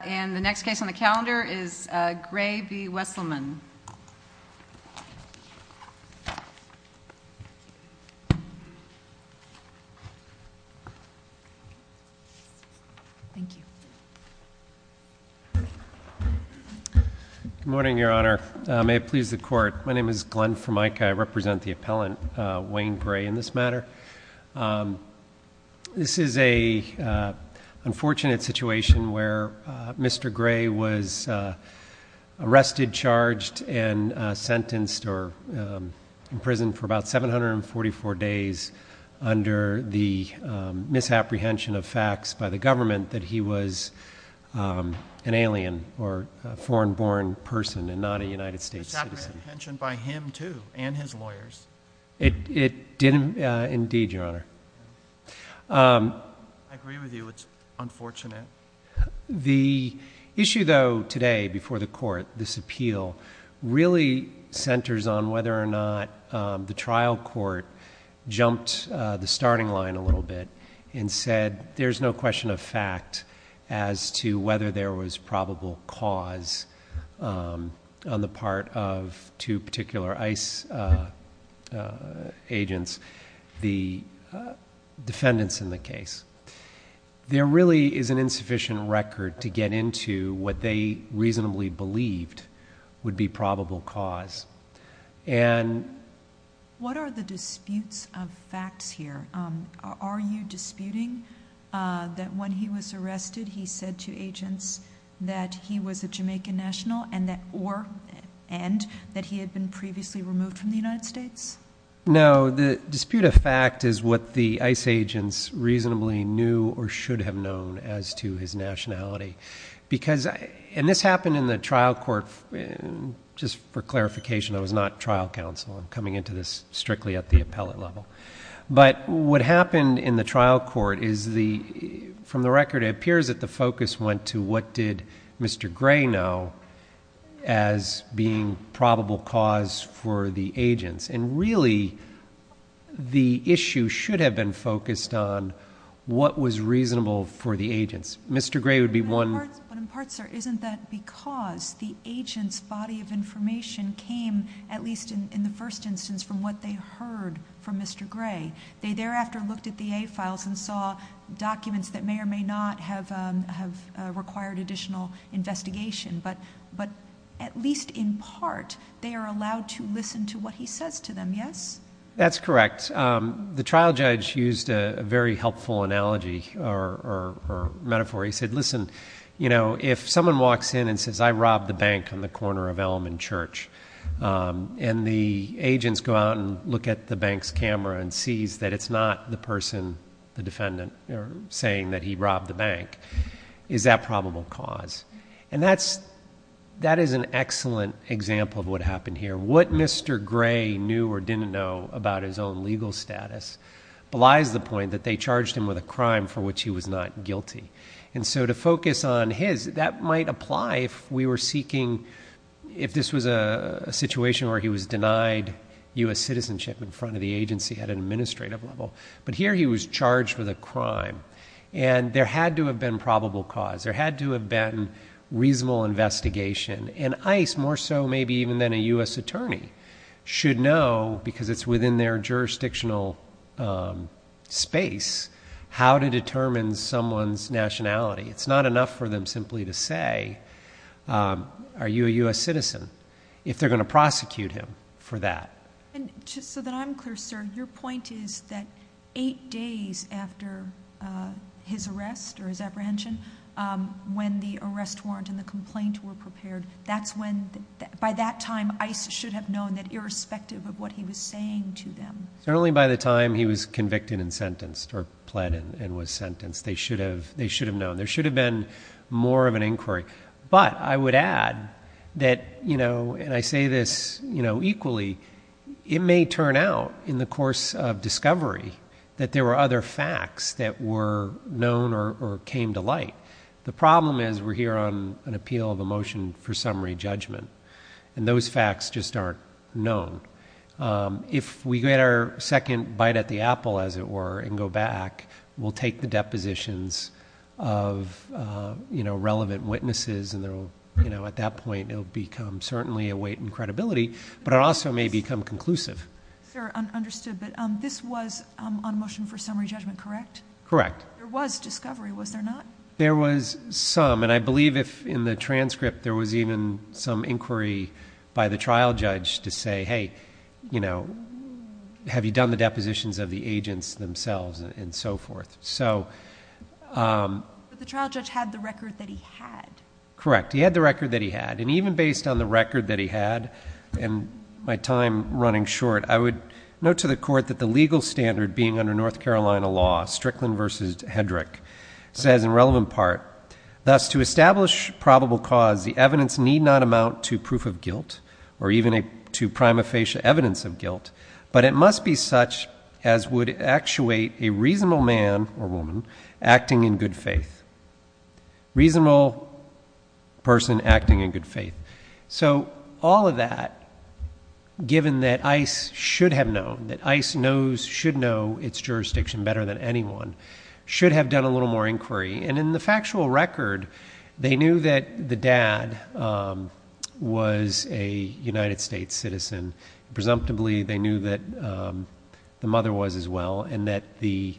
And the next case on the calendar is Gray v. Weselmann. Good morning, Your Honor. May it please the Court, my name is Glenn Formica. I represent the appellant, Wayne Gray, in this matter. This is an unfortunate situation where Mr. Gray was arrested, charged, and sentenced or imprisoned for about 744 days under the misapprehension of facts by the government that he was an alien or a foreign-born person and not a United States citizen. Misapprehension by him too and his lawyers. It did indeed, Your Honor. I agree with you, it's unfortunate. The issue, though, today before the Court, this appeal, really centers on whether or not the trial court jumped the starting line a little bit and said there's no question of fact as to whether there was probable cause on the part of two particular ICE agents, the defendants in the case. There really is an insufficient record to get into what they reasonably believed would be probable cause. What are the disputes of facts here? Are you disputing that when he was arrested he said to agents that he was a Jamaican national and that he had been previously removed from the United States? No, the dispute of fact is what the ICE agents reasonably knew or should have known as to his nationality. This happened in the trial court. Just for clarification, I was not trial counsel. I'm coming into this strictly at the appellate level. What happened in the trial court is, from the record, it appears that the focus went to what did Mr. Gray know as being probable cause for the agents. Really, the issue should have been focused on what was reasonable for the agents. But in part, sir, isn't that because the agents' body of information came, at least in the first instance, from what they heard from Mr. Gray? They thereafter looked at the A files and saw documents that may or may not have required additional investigation, but at least in part, they are allowed to listen to what he says to them, yes? That's correct. The trial judge used a very helpful analogy or metaphor. He said, listen, if someone walks in and says, I robbed the bank on the corner of Elm and Church, and the agents go out and look at the bank's camera and sees that it's not the person, the defendant, saying that he robbed the bank, is that probable cause? And that is an excellent example of what happened here. What Mr. Gray knew or didn't know about his own legal status belies the point that they charged him with a crime for which he was not guilty. And so to focus on his, that might apply if we were seeking, if this was a situation where he was denied U.S. citizenship in front of the agency at an administrative level. But here he was charged with a crime, and there had to have been probable cause. There had to have been reasonable investigation. And ICE, more so maybe even than a U.S. attorney, should know, because it's within their jurisdictional space, how to determine someone's nationality. It's not enough for them simply to say, are you a U.S. citizen, if they're going to prosecute him for that. And just so that I'm clear, sir, your point is that eight days after his arrest or his apprehension, when the arrest warrant and the complaint were prepared, that's when, by that time, ICE should have known that irrespective of what he was saying to them. Certainly by the time he was convicted and sentenced or pled and was sentenced, they should have known. There should have been more of an inquiry. But I would add that, you know, and I say this, you know, equally, it may turn out in the course of discovery that there were other facts that were known or came to light. The problem is we're here on an appeal of a motion for summary judgment. And those facts just aren't known. If we get our second bite at the apple, as it were, and go back, we'll take the depositions of, you know, relevant witnesses. And, you know, at that point, it will become certainly a weight in credibility. But it also may become conclusive. Sir, understood. But this was on motion for summary judgment, correct? Correct. There was discovery, was there not? There was some. And I believe if in the transcript there was even some inquiry by the trial judge to say, hey, you know, have you done the depositions of the agents themselves and so forth. But the trial judge had the record that he had. Correct. He had the record that he had. And even based on the record that he had and my time running short, I would note to the court that the legal standard being under North Carolina law, Strickland v. Hedrick, says in relevant part, thus to establish probable cause, the evidence need not amount to proof of guilt or even to prima facie evidence of guilt. But it must be such as would actuate a reasonable man or woman acting in good faith. Reasonable person acting in good faith. So all of that, given that ICE should have known, that ICE knows, should know its jurisdiction better than anyone, should have done a little more inquiry. And in the factual record, they knew that the dad was a United States citizen. And presumptively they knew that the mother was as well and that the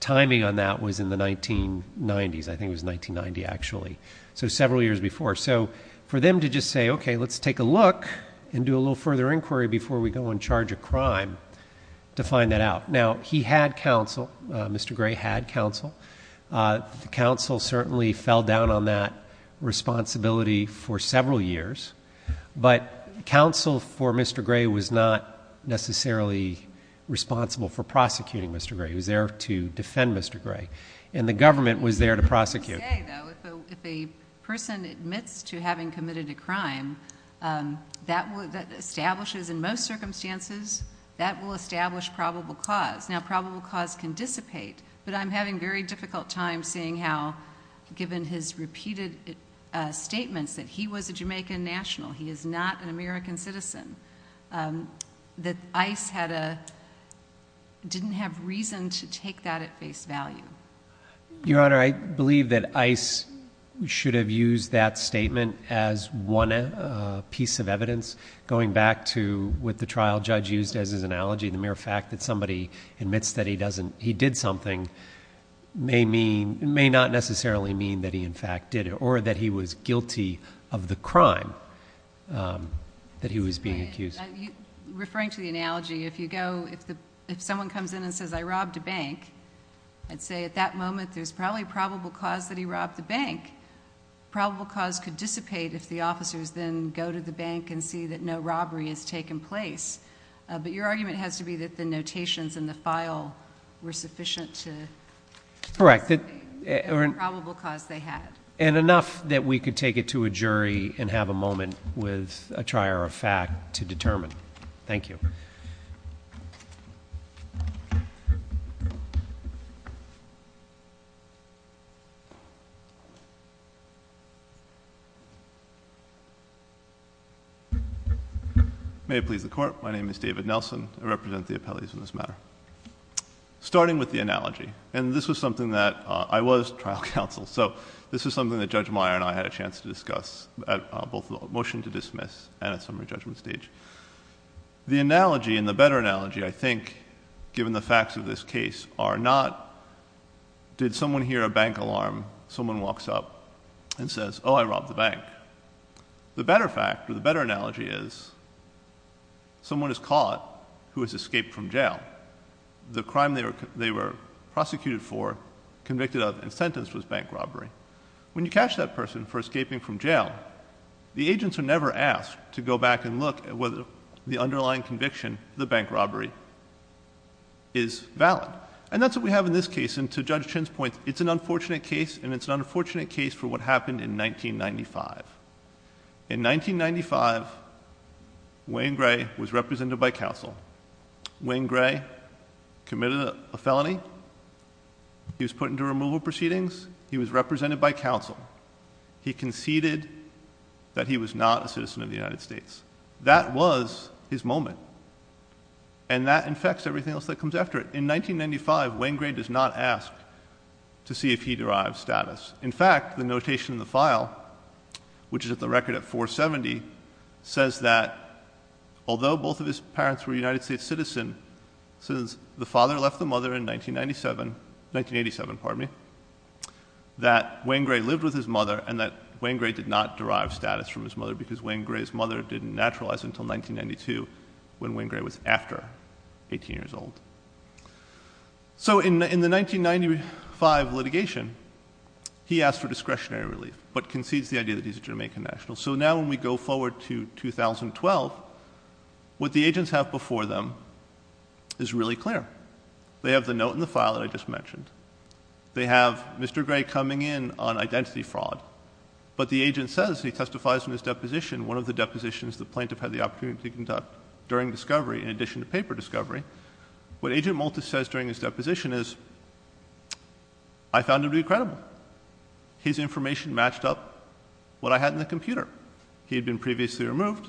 timing on that was in the 1990s. I think it was 1990 actually. So several years before. So for them to just say, okay, let's take a look and do a little further inquiry before we go and charge a crime to find that out. Now, he had counsel. Mr. Gray had counsel. The counsel certainly fell down on that responsibility for several years. But counsel for Mr. Gray was not necessarily responsible for prosecuting Mr. Gray. He was there to defend Mr. Gray. And the government was there to prosecute. If a person admits to having committed a crime, that establishes in most circumstances, that will establish probable cause. Now, probable cause can dissipate. But I'm having a very difficult time seeing how, given his repeated statements that he was a Jamaican national, he is not an American citizen, that ICE didn't have reason to take that at face value. Your Honor, I believe that ICE should have used that statement as one piece of evidence. Going back to what the trial judge used as his analogy, the mere fact that somebody admits that he did something may not necessarily mean that he in fact did it or that he was guilty of the crime that he was being accused. Referring to the analogy, if someone comes in and says, I robbed a bank, I'd say at that moment there's probably probable cause that he robbed the bank. Probable cause could dissipate if the officers then go to the bank and see that no robbery has taken place. But your argument has to be that the notations in the file were sufficient to dissipate the probable cause they had. And enough that we could take it to a jury and have a moment with a trier of fact to determine. Thank you. May it please the Court. My name is David Nelson. I represent the appellees in this matter. Starting with the analogy, and this was something that I was trial counsel, so this is something that Judge Meyer and I had a chance to discuss at both the motion to dismiss and at summary judgment stage. The analogy and the better analogy, I think, given the facts of this case, are not did someone hear a bank alarm, someone walks up and says, oh, I robbed the bank. The better fact or the better analogy is someone is caught who has escaped from jail. The crime they were prosecuted for, convicted of, and sentenced was bank robbery. When you catch that person for escaping from jail, the agents are never asked to go back and look at whether the underlying conviction, the bank robbery, is valid. And that's what we have in this case. And to Judge Chin's point, it's an unfortunate case, and it's an unfortunate case for what happened in 1995. In 1995, Wayne Gray was represented by counsel. Wayne Gray committed a felony. He was put into removal proceedings. He was represented by counsel. He conceded that he was not a citizen of the United States. That was his moment, and that infects everything else that comes after it. In 1995, Wayne Gray does not ask to see if he derives status. In fact, the notation in the file, which is at the record at 470, says that although both of his parents were United States citizens, the father left the mother in 1987, that Wayne Gray lived with his mother and that Wayne Gray did not derive status from his mother because Wayne Gray's mother didn't naturalize until 1992, when Wayne Gray was after 18 years old. So in the 1995 litigation, he asked for discretionary relief but concedes the idea that he's a Jamaican national. So now when we go forward to 2012, what the agents have before them is really clear. They have the note in the file that I just mentioned. They have Mr. Gray coming in on identity fraud, but the agent says, he testifies in his deposition, one of the depositions the plaintiff had the opportunity to conduct during discovery in addition to paper discovery. What Agent Maltis says during his deposition is, I found him to be credible. His information matched up what I had in the computer. He had been previously removed.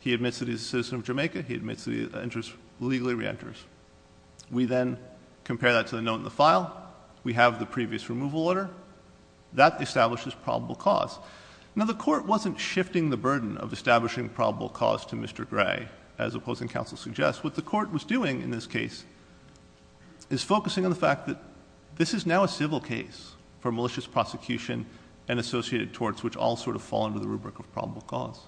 He admits that he's a citizen of Jamaica. He admits that he legally reenters. We then compare that to the note in the file. We have the previous removal order. That establishes probable cause. Now, the court wasn't shifting the burden of establishing probable cause to Mr. Gray, as opposing counsel suggests. What the court was doing in this case is focusing on the fact that this is now a civil case for malicious prosecution and associated torts, which all sort of fall under the rubric of probable cause.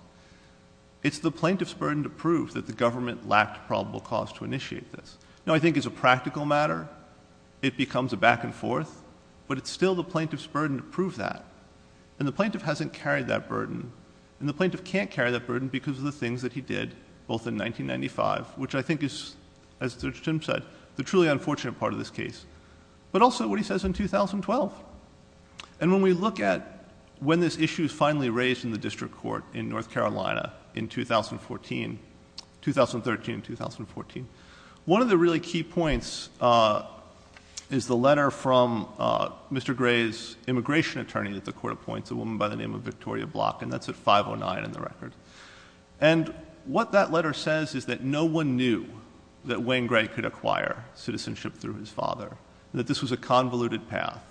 It's the plaintiff's burden to prove that the government lacked probable cause to initiate this. Now, I think as a practical matter, it becomes a back and forth, but it's still the plaintiff's burden to prove that. And the plaintiff hasn't carried that burden. And the plaintiff can't carry that burden because of the things that he did, both in 1995, which I think is, as Judge Tim said, the truly unfortunate part of this case. But also what he says in 2012. And when we look at when this issue is finally raised in the district court in North Carolina in 2013 and 2014, one of the really key points is the letter from Mr. Gray's immigration attorney that the court appoints, a woman by the name of Victoria Block. And that's at 509 in the record. And what that letter says is that no one knew that Wayne Gray could acquire citizenship through his father, that this was a convoluted path.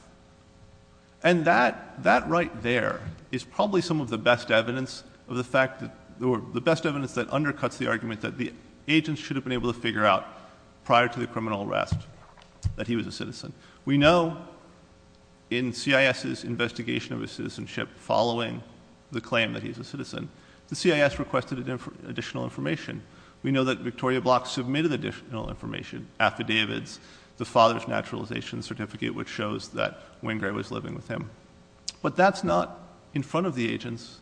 And that right there is probably some of the best evidence that undercuts the argument that the agents should have been able to figure out prior to the criminal arrest that he was a citizen. We know in CIS's investigation of his citizenship following the claim that he's a citizen, the CIS requested additional information. We know that Victoria Block submitted additional information, affidavits, the father's naturalization certificate, which shows that Wayne Gray was living with him. But that's not in front of the agents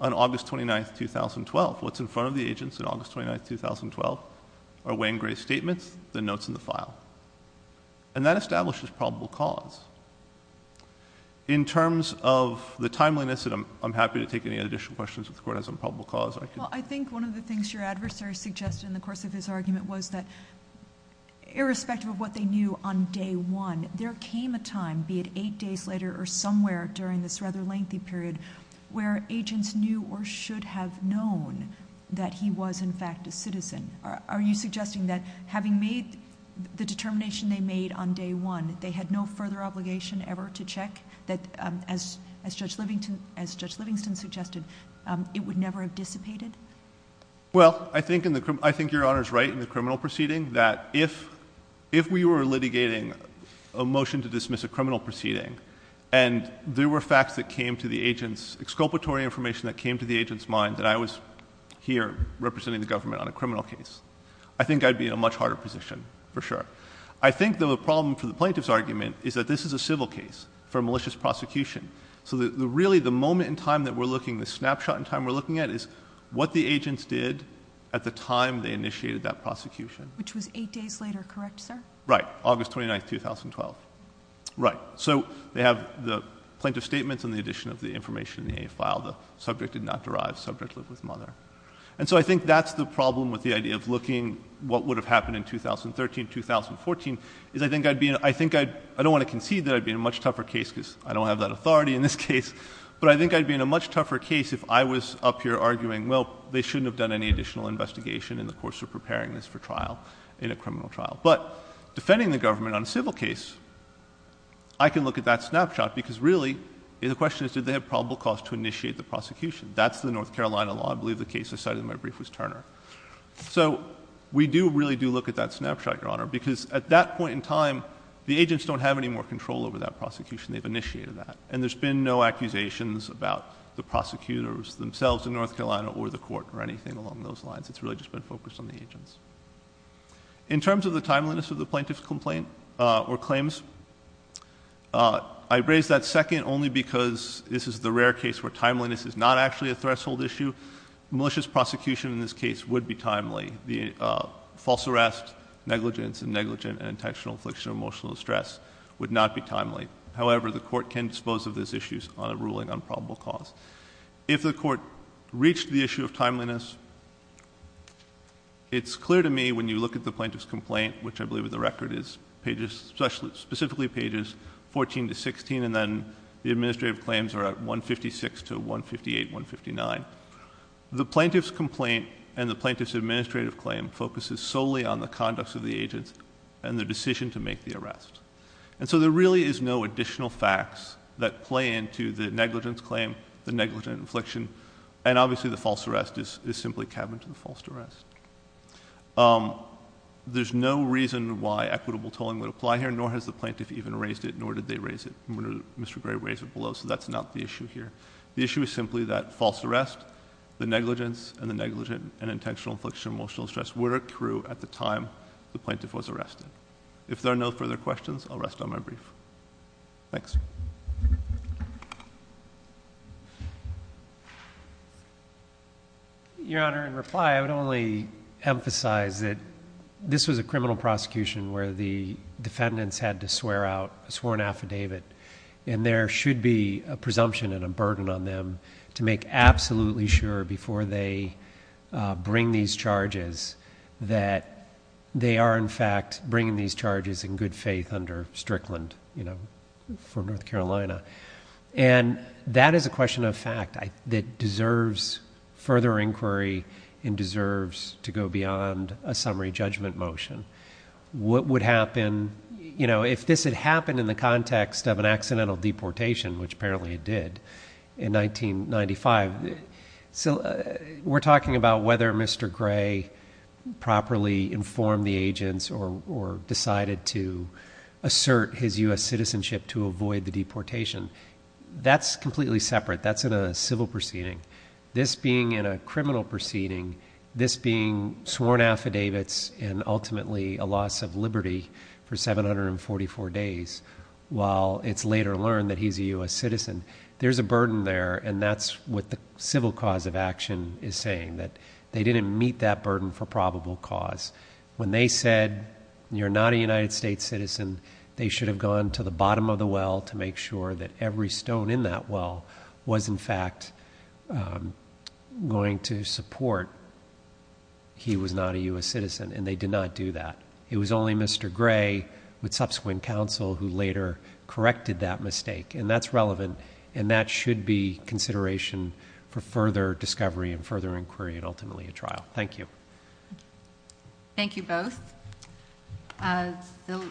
on August 29, 2012. What's in front of the agents on August 29, 2012 are Wayne Gray's statements, the notes in the file. And that establishes probable cause. In terms of the timeliness, and I'm happy to take any additional questions if the court has a probable cause. Well, I think one of the things your adversary suggested in the course of his argument was that irrespective of what they knew on day one, there came a time, be it eight days later or somewhere during this rather lengthy period, where agents knew or should have known that he was in fact a citizen. Are you suggesting that having made the determination they made on day one, they had no further obligation ever to check that, as Judge Livingston suggested, it would never have dissipated? Well, I think your Honor's right in the criminal proceeding that if we were litigating a motion to dismiss a criminal proceeding and there were facts that came to the agent's, exculpatory information that came to the agent's mind that I was here representing the government on a criminal case, I think I'd be in a much harder position, for sure. I think the problem for the plaintiff's argument is that this is a civil case for a malicious prosecution. So really the moment in time that we're looking, the snapshot in time we're looking at, is what the agents did at the time they initiated that prosecution. Which was eight days later, correct, sir? Right, August 29, 2012. Right. So they have the plaintiff's statements and the addition of the information in the A file, the subject did not derive, subject lived with mother. And so I think that's the problem with the idea of looking what would have happened in 2013, 2014, is I think I'd be in a, I think I'd, I don't want to concede that I'd be in a much tougher case, because I don't have that authority in this case, but I think I'd be in a much tougher case if I was up here arguing, well, they shouldn't have done any additional investigation in the course of preparing this for trial, in a criminal trial. But defending the government on a civil case, I can look at that snapshot, because really the question is did they have probable cause to initiate the prosecution? That's the North Carolina law. I believe the case I cited in my brief was Turner. So we do really do look at that snapshot, Your Honor, because at that point in time the agents don't have any more control over that prosecution. They've initiated that. And there's been no accusations about the prosecutors themselves in North Carolina or the court or anything along those lines. It's really just been focused on the agents. In terms of the timeliness of the plaintiff's complaint or claims, I raise that second only because this is the rare case where timeliness is not actually a threshold issue. Malicious prosecution in this case would be timely. The false arrest, negligence, and negligent and intentional affliction of emotional distress would not be timely. However, the court can dispose of those issues on a ruling on probable cause. If the court reached the issue of timeliness, it's clear to me when you look at the plaintiff's complaint, which I believe in the record is pages, specifically pages 14 to 16, and then the administrative claims are at 156 to 158, 159. The plaintiff's complaint and the plaintiff's administrative claim focuses solely on the conducts of the agents and the decision to make the arrest. And so there really is no additional facts that play into the negligence claim, the negligent affliction, and obviously the false arrest is simply cabined to the false arrest. There's no reason why equitable tolling would apply here, nor has the plaintiff even raised it, nor did they raise it. Mr. Gray raised it below, so that's not the issue here. The issue is simply that false arrest, the negligence, and the negligent and intentional affliction of emotional stress were true at the time the plaintiff was arrested. If there are no further questions, I'll rest on my brief. Thanks. Your Honor, in reply, I would only emphasize that this was a criminal prosecution where the defendants had to swear out a sworn affidavit, and there should be a presumption and a burden on them to make absolutely sure before they bring these charges that they are, in fact, bringing these charges in good faith under Strickland, you know, for North Carolina. And that is a question of fact that deserves further inquiry and deserves to go beyond a summary judgment motion. What would happen, you know, if this had happened in the context of an accidental deportation, which apparently it did in 1995, we're talking about whether Mr. Gray properly informed the agents or decided to assert his U.S. citizenship to avoid the deportation. That's completely separate. That's in a civil proceeding. This being in a criminal proceeding, this being sworn affidavits and ultimately a loss of liberty for 744 days, while it's later learned that he's a U.S. citizen, there's a burden there, and that's what the civil cause of action is saying, that they didn't meet that burden for probable cause. When they said you're not a United States citizen, they should have gone to the bottom of the well to make sure that every stone in that well was, in fact, going to support he was not a U.S. citizen, and they did not do that. It was only Mr. Gray with subsequent counsel who later corrected that mistake, and that's relevant, and that should be consideration for further discovery and further inquiry and ultimately a trial. Thank you. Thank you both. The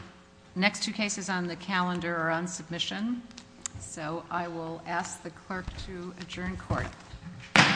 next two cases on the calendar are on submission, so I will ask the clerk to adjourn court. Court is adjourned.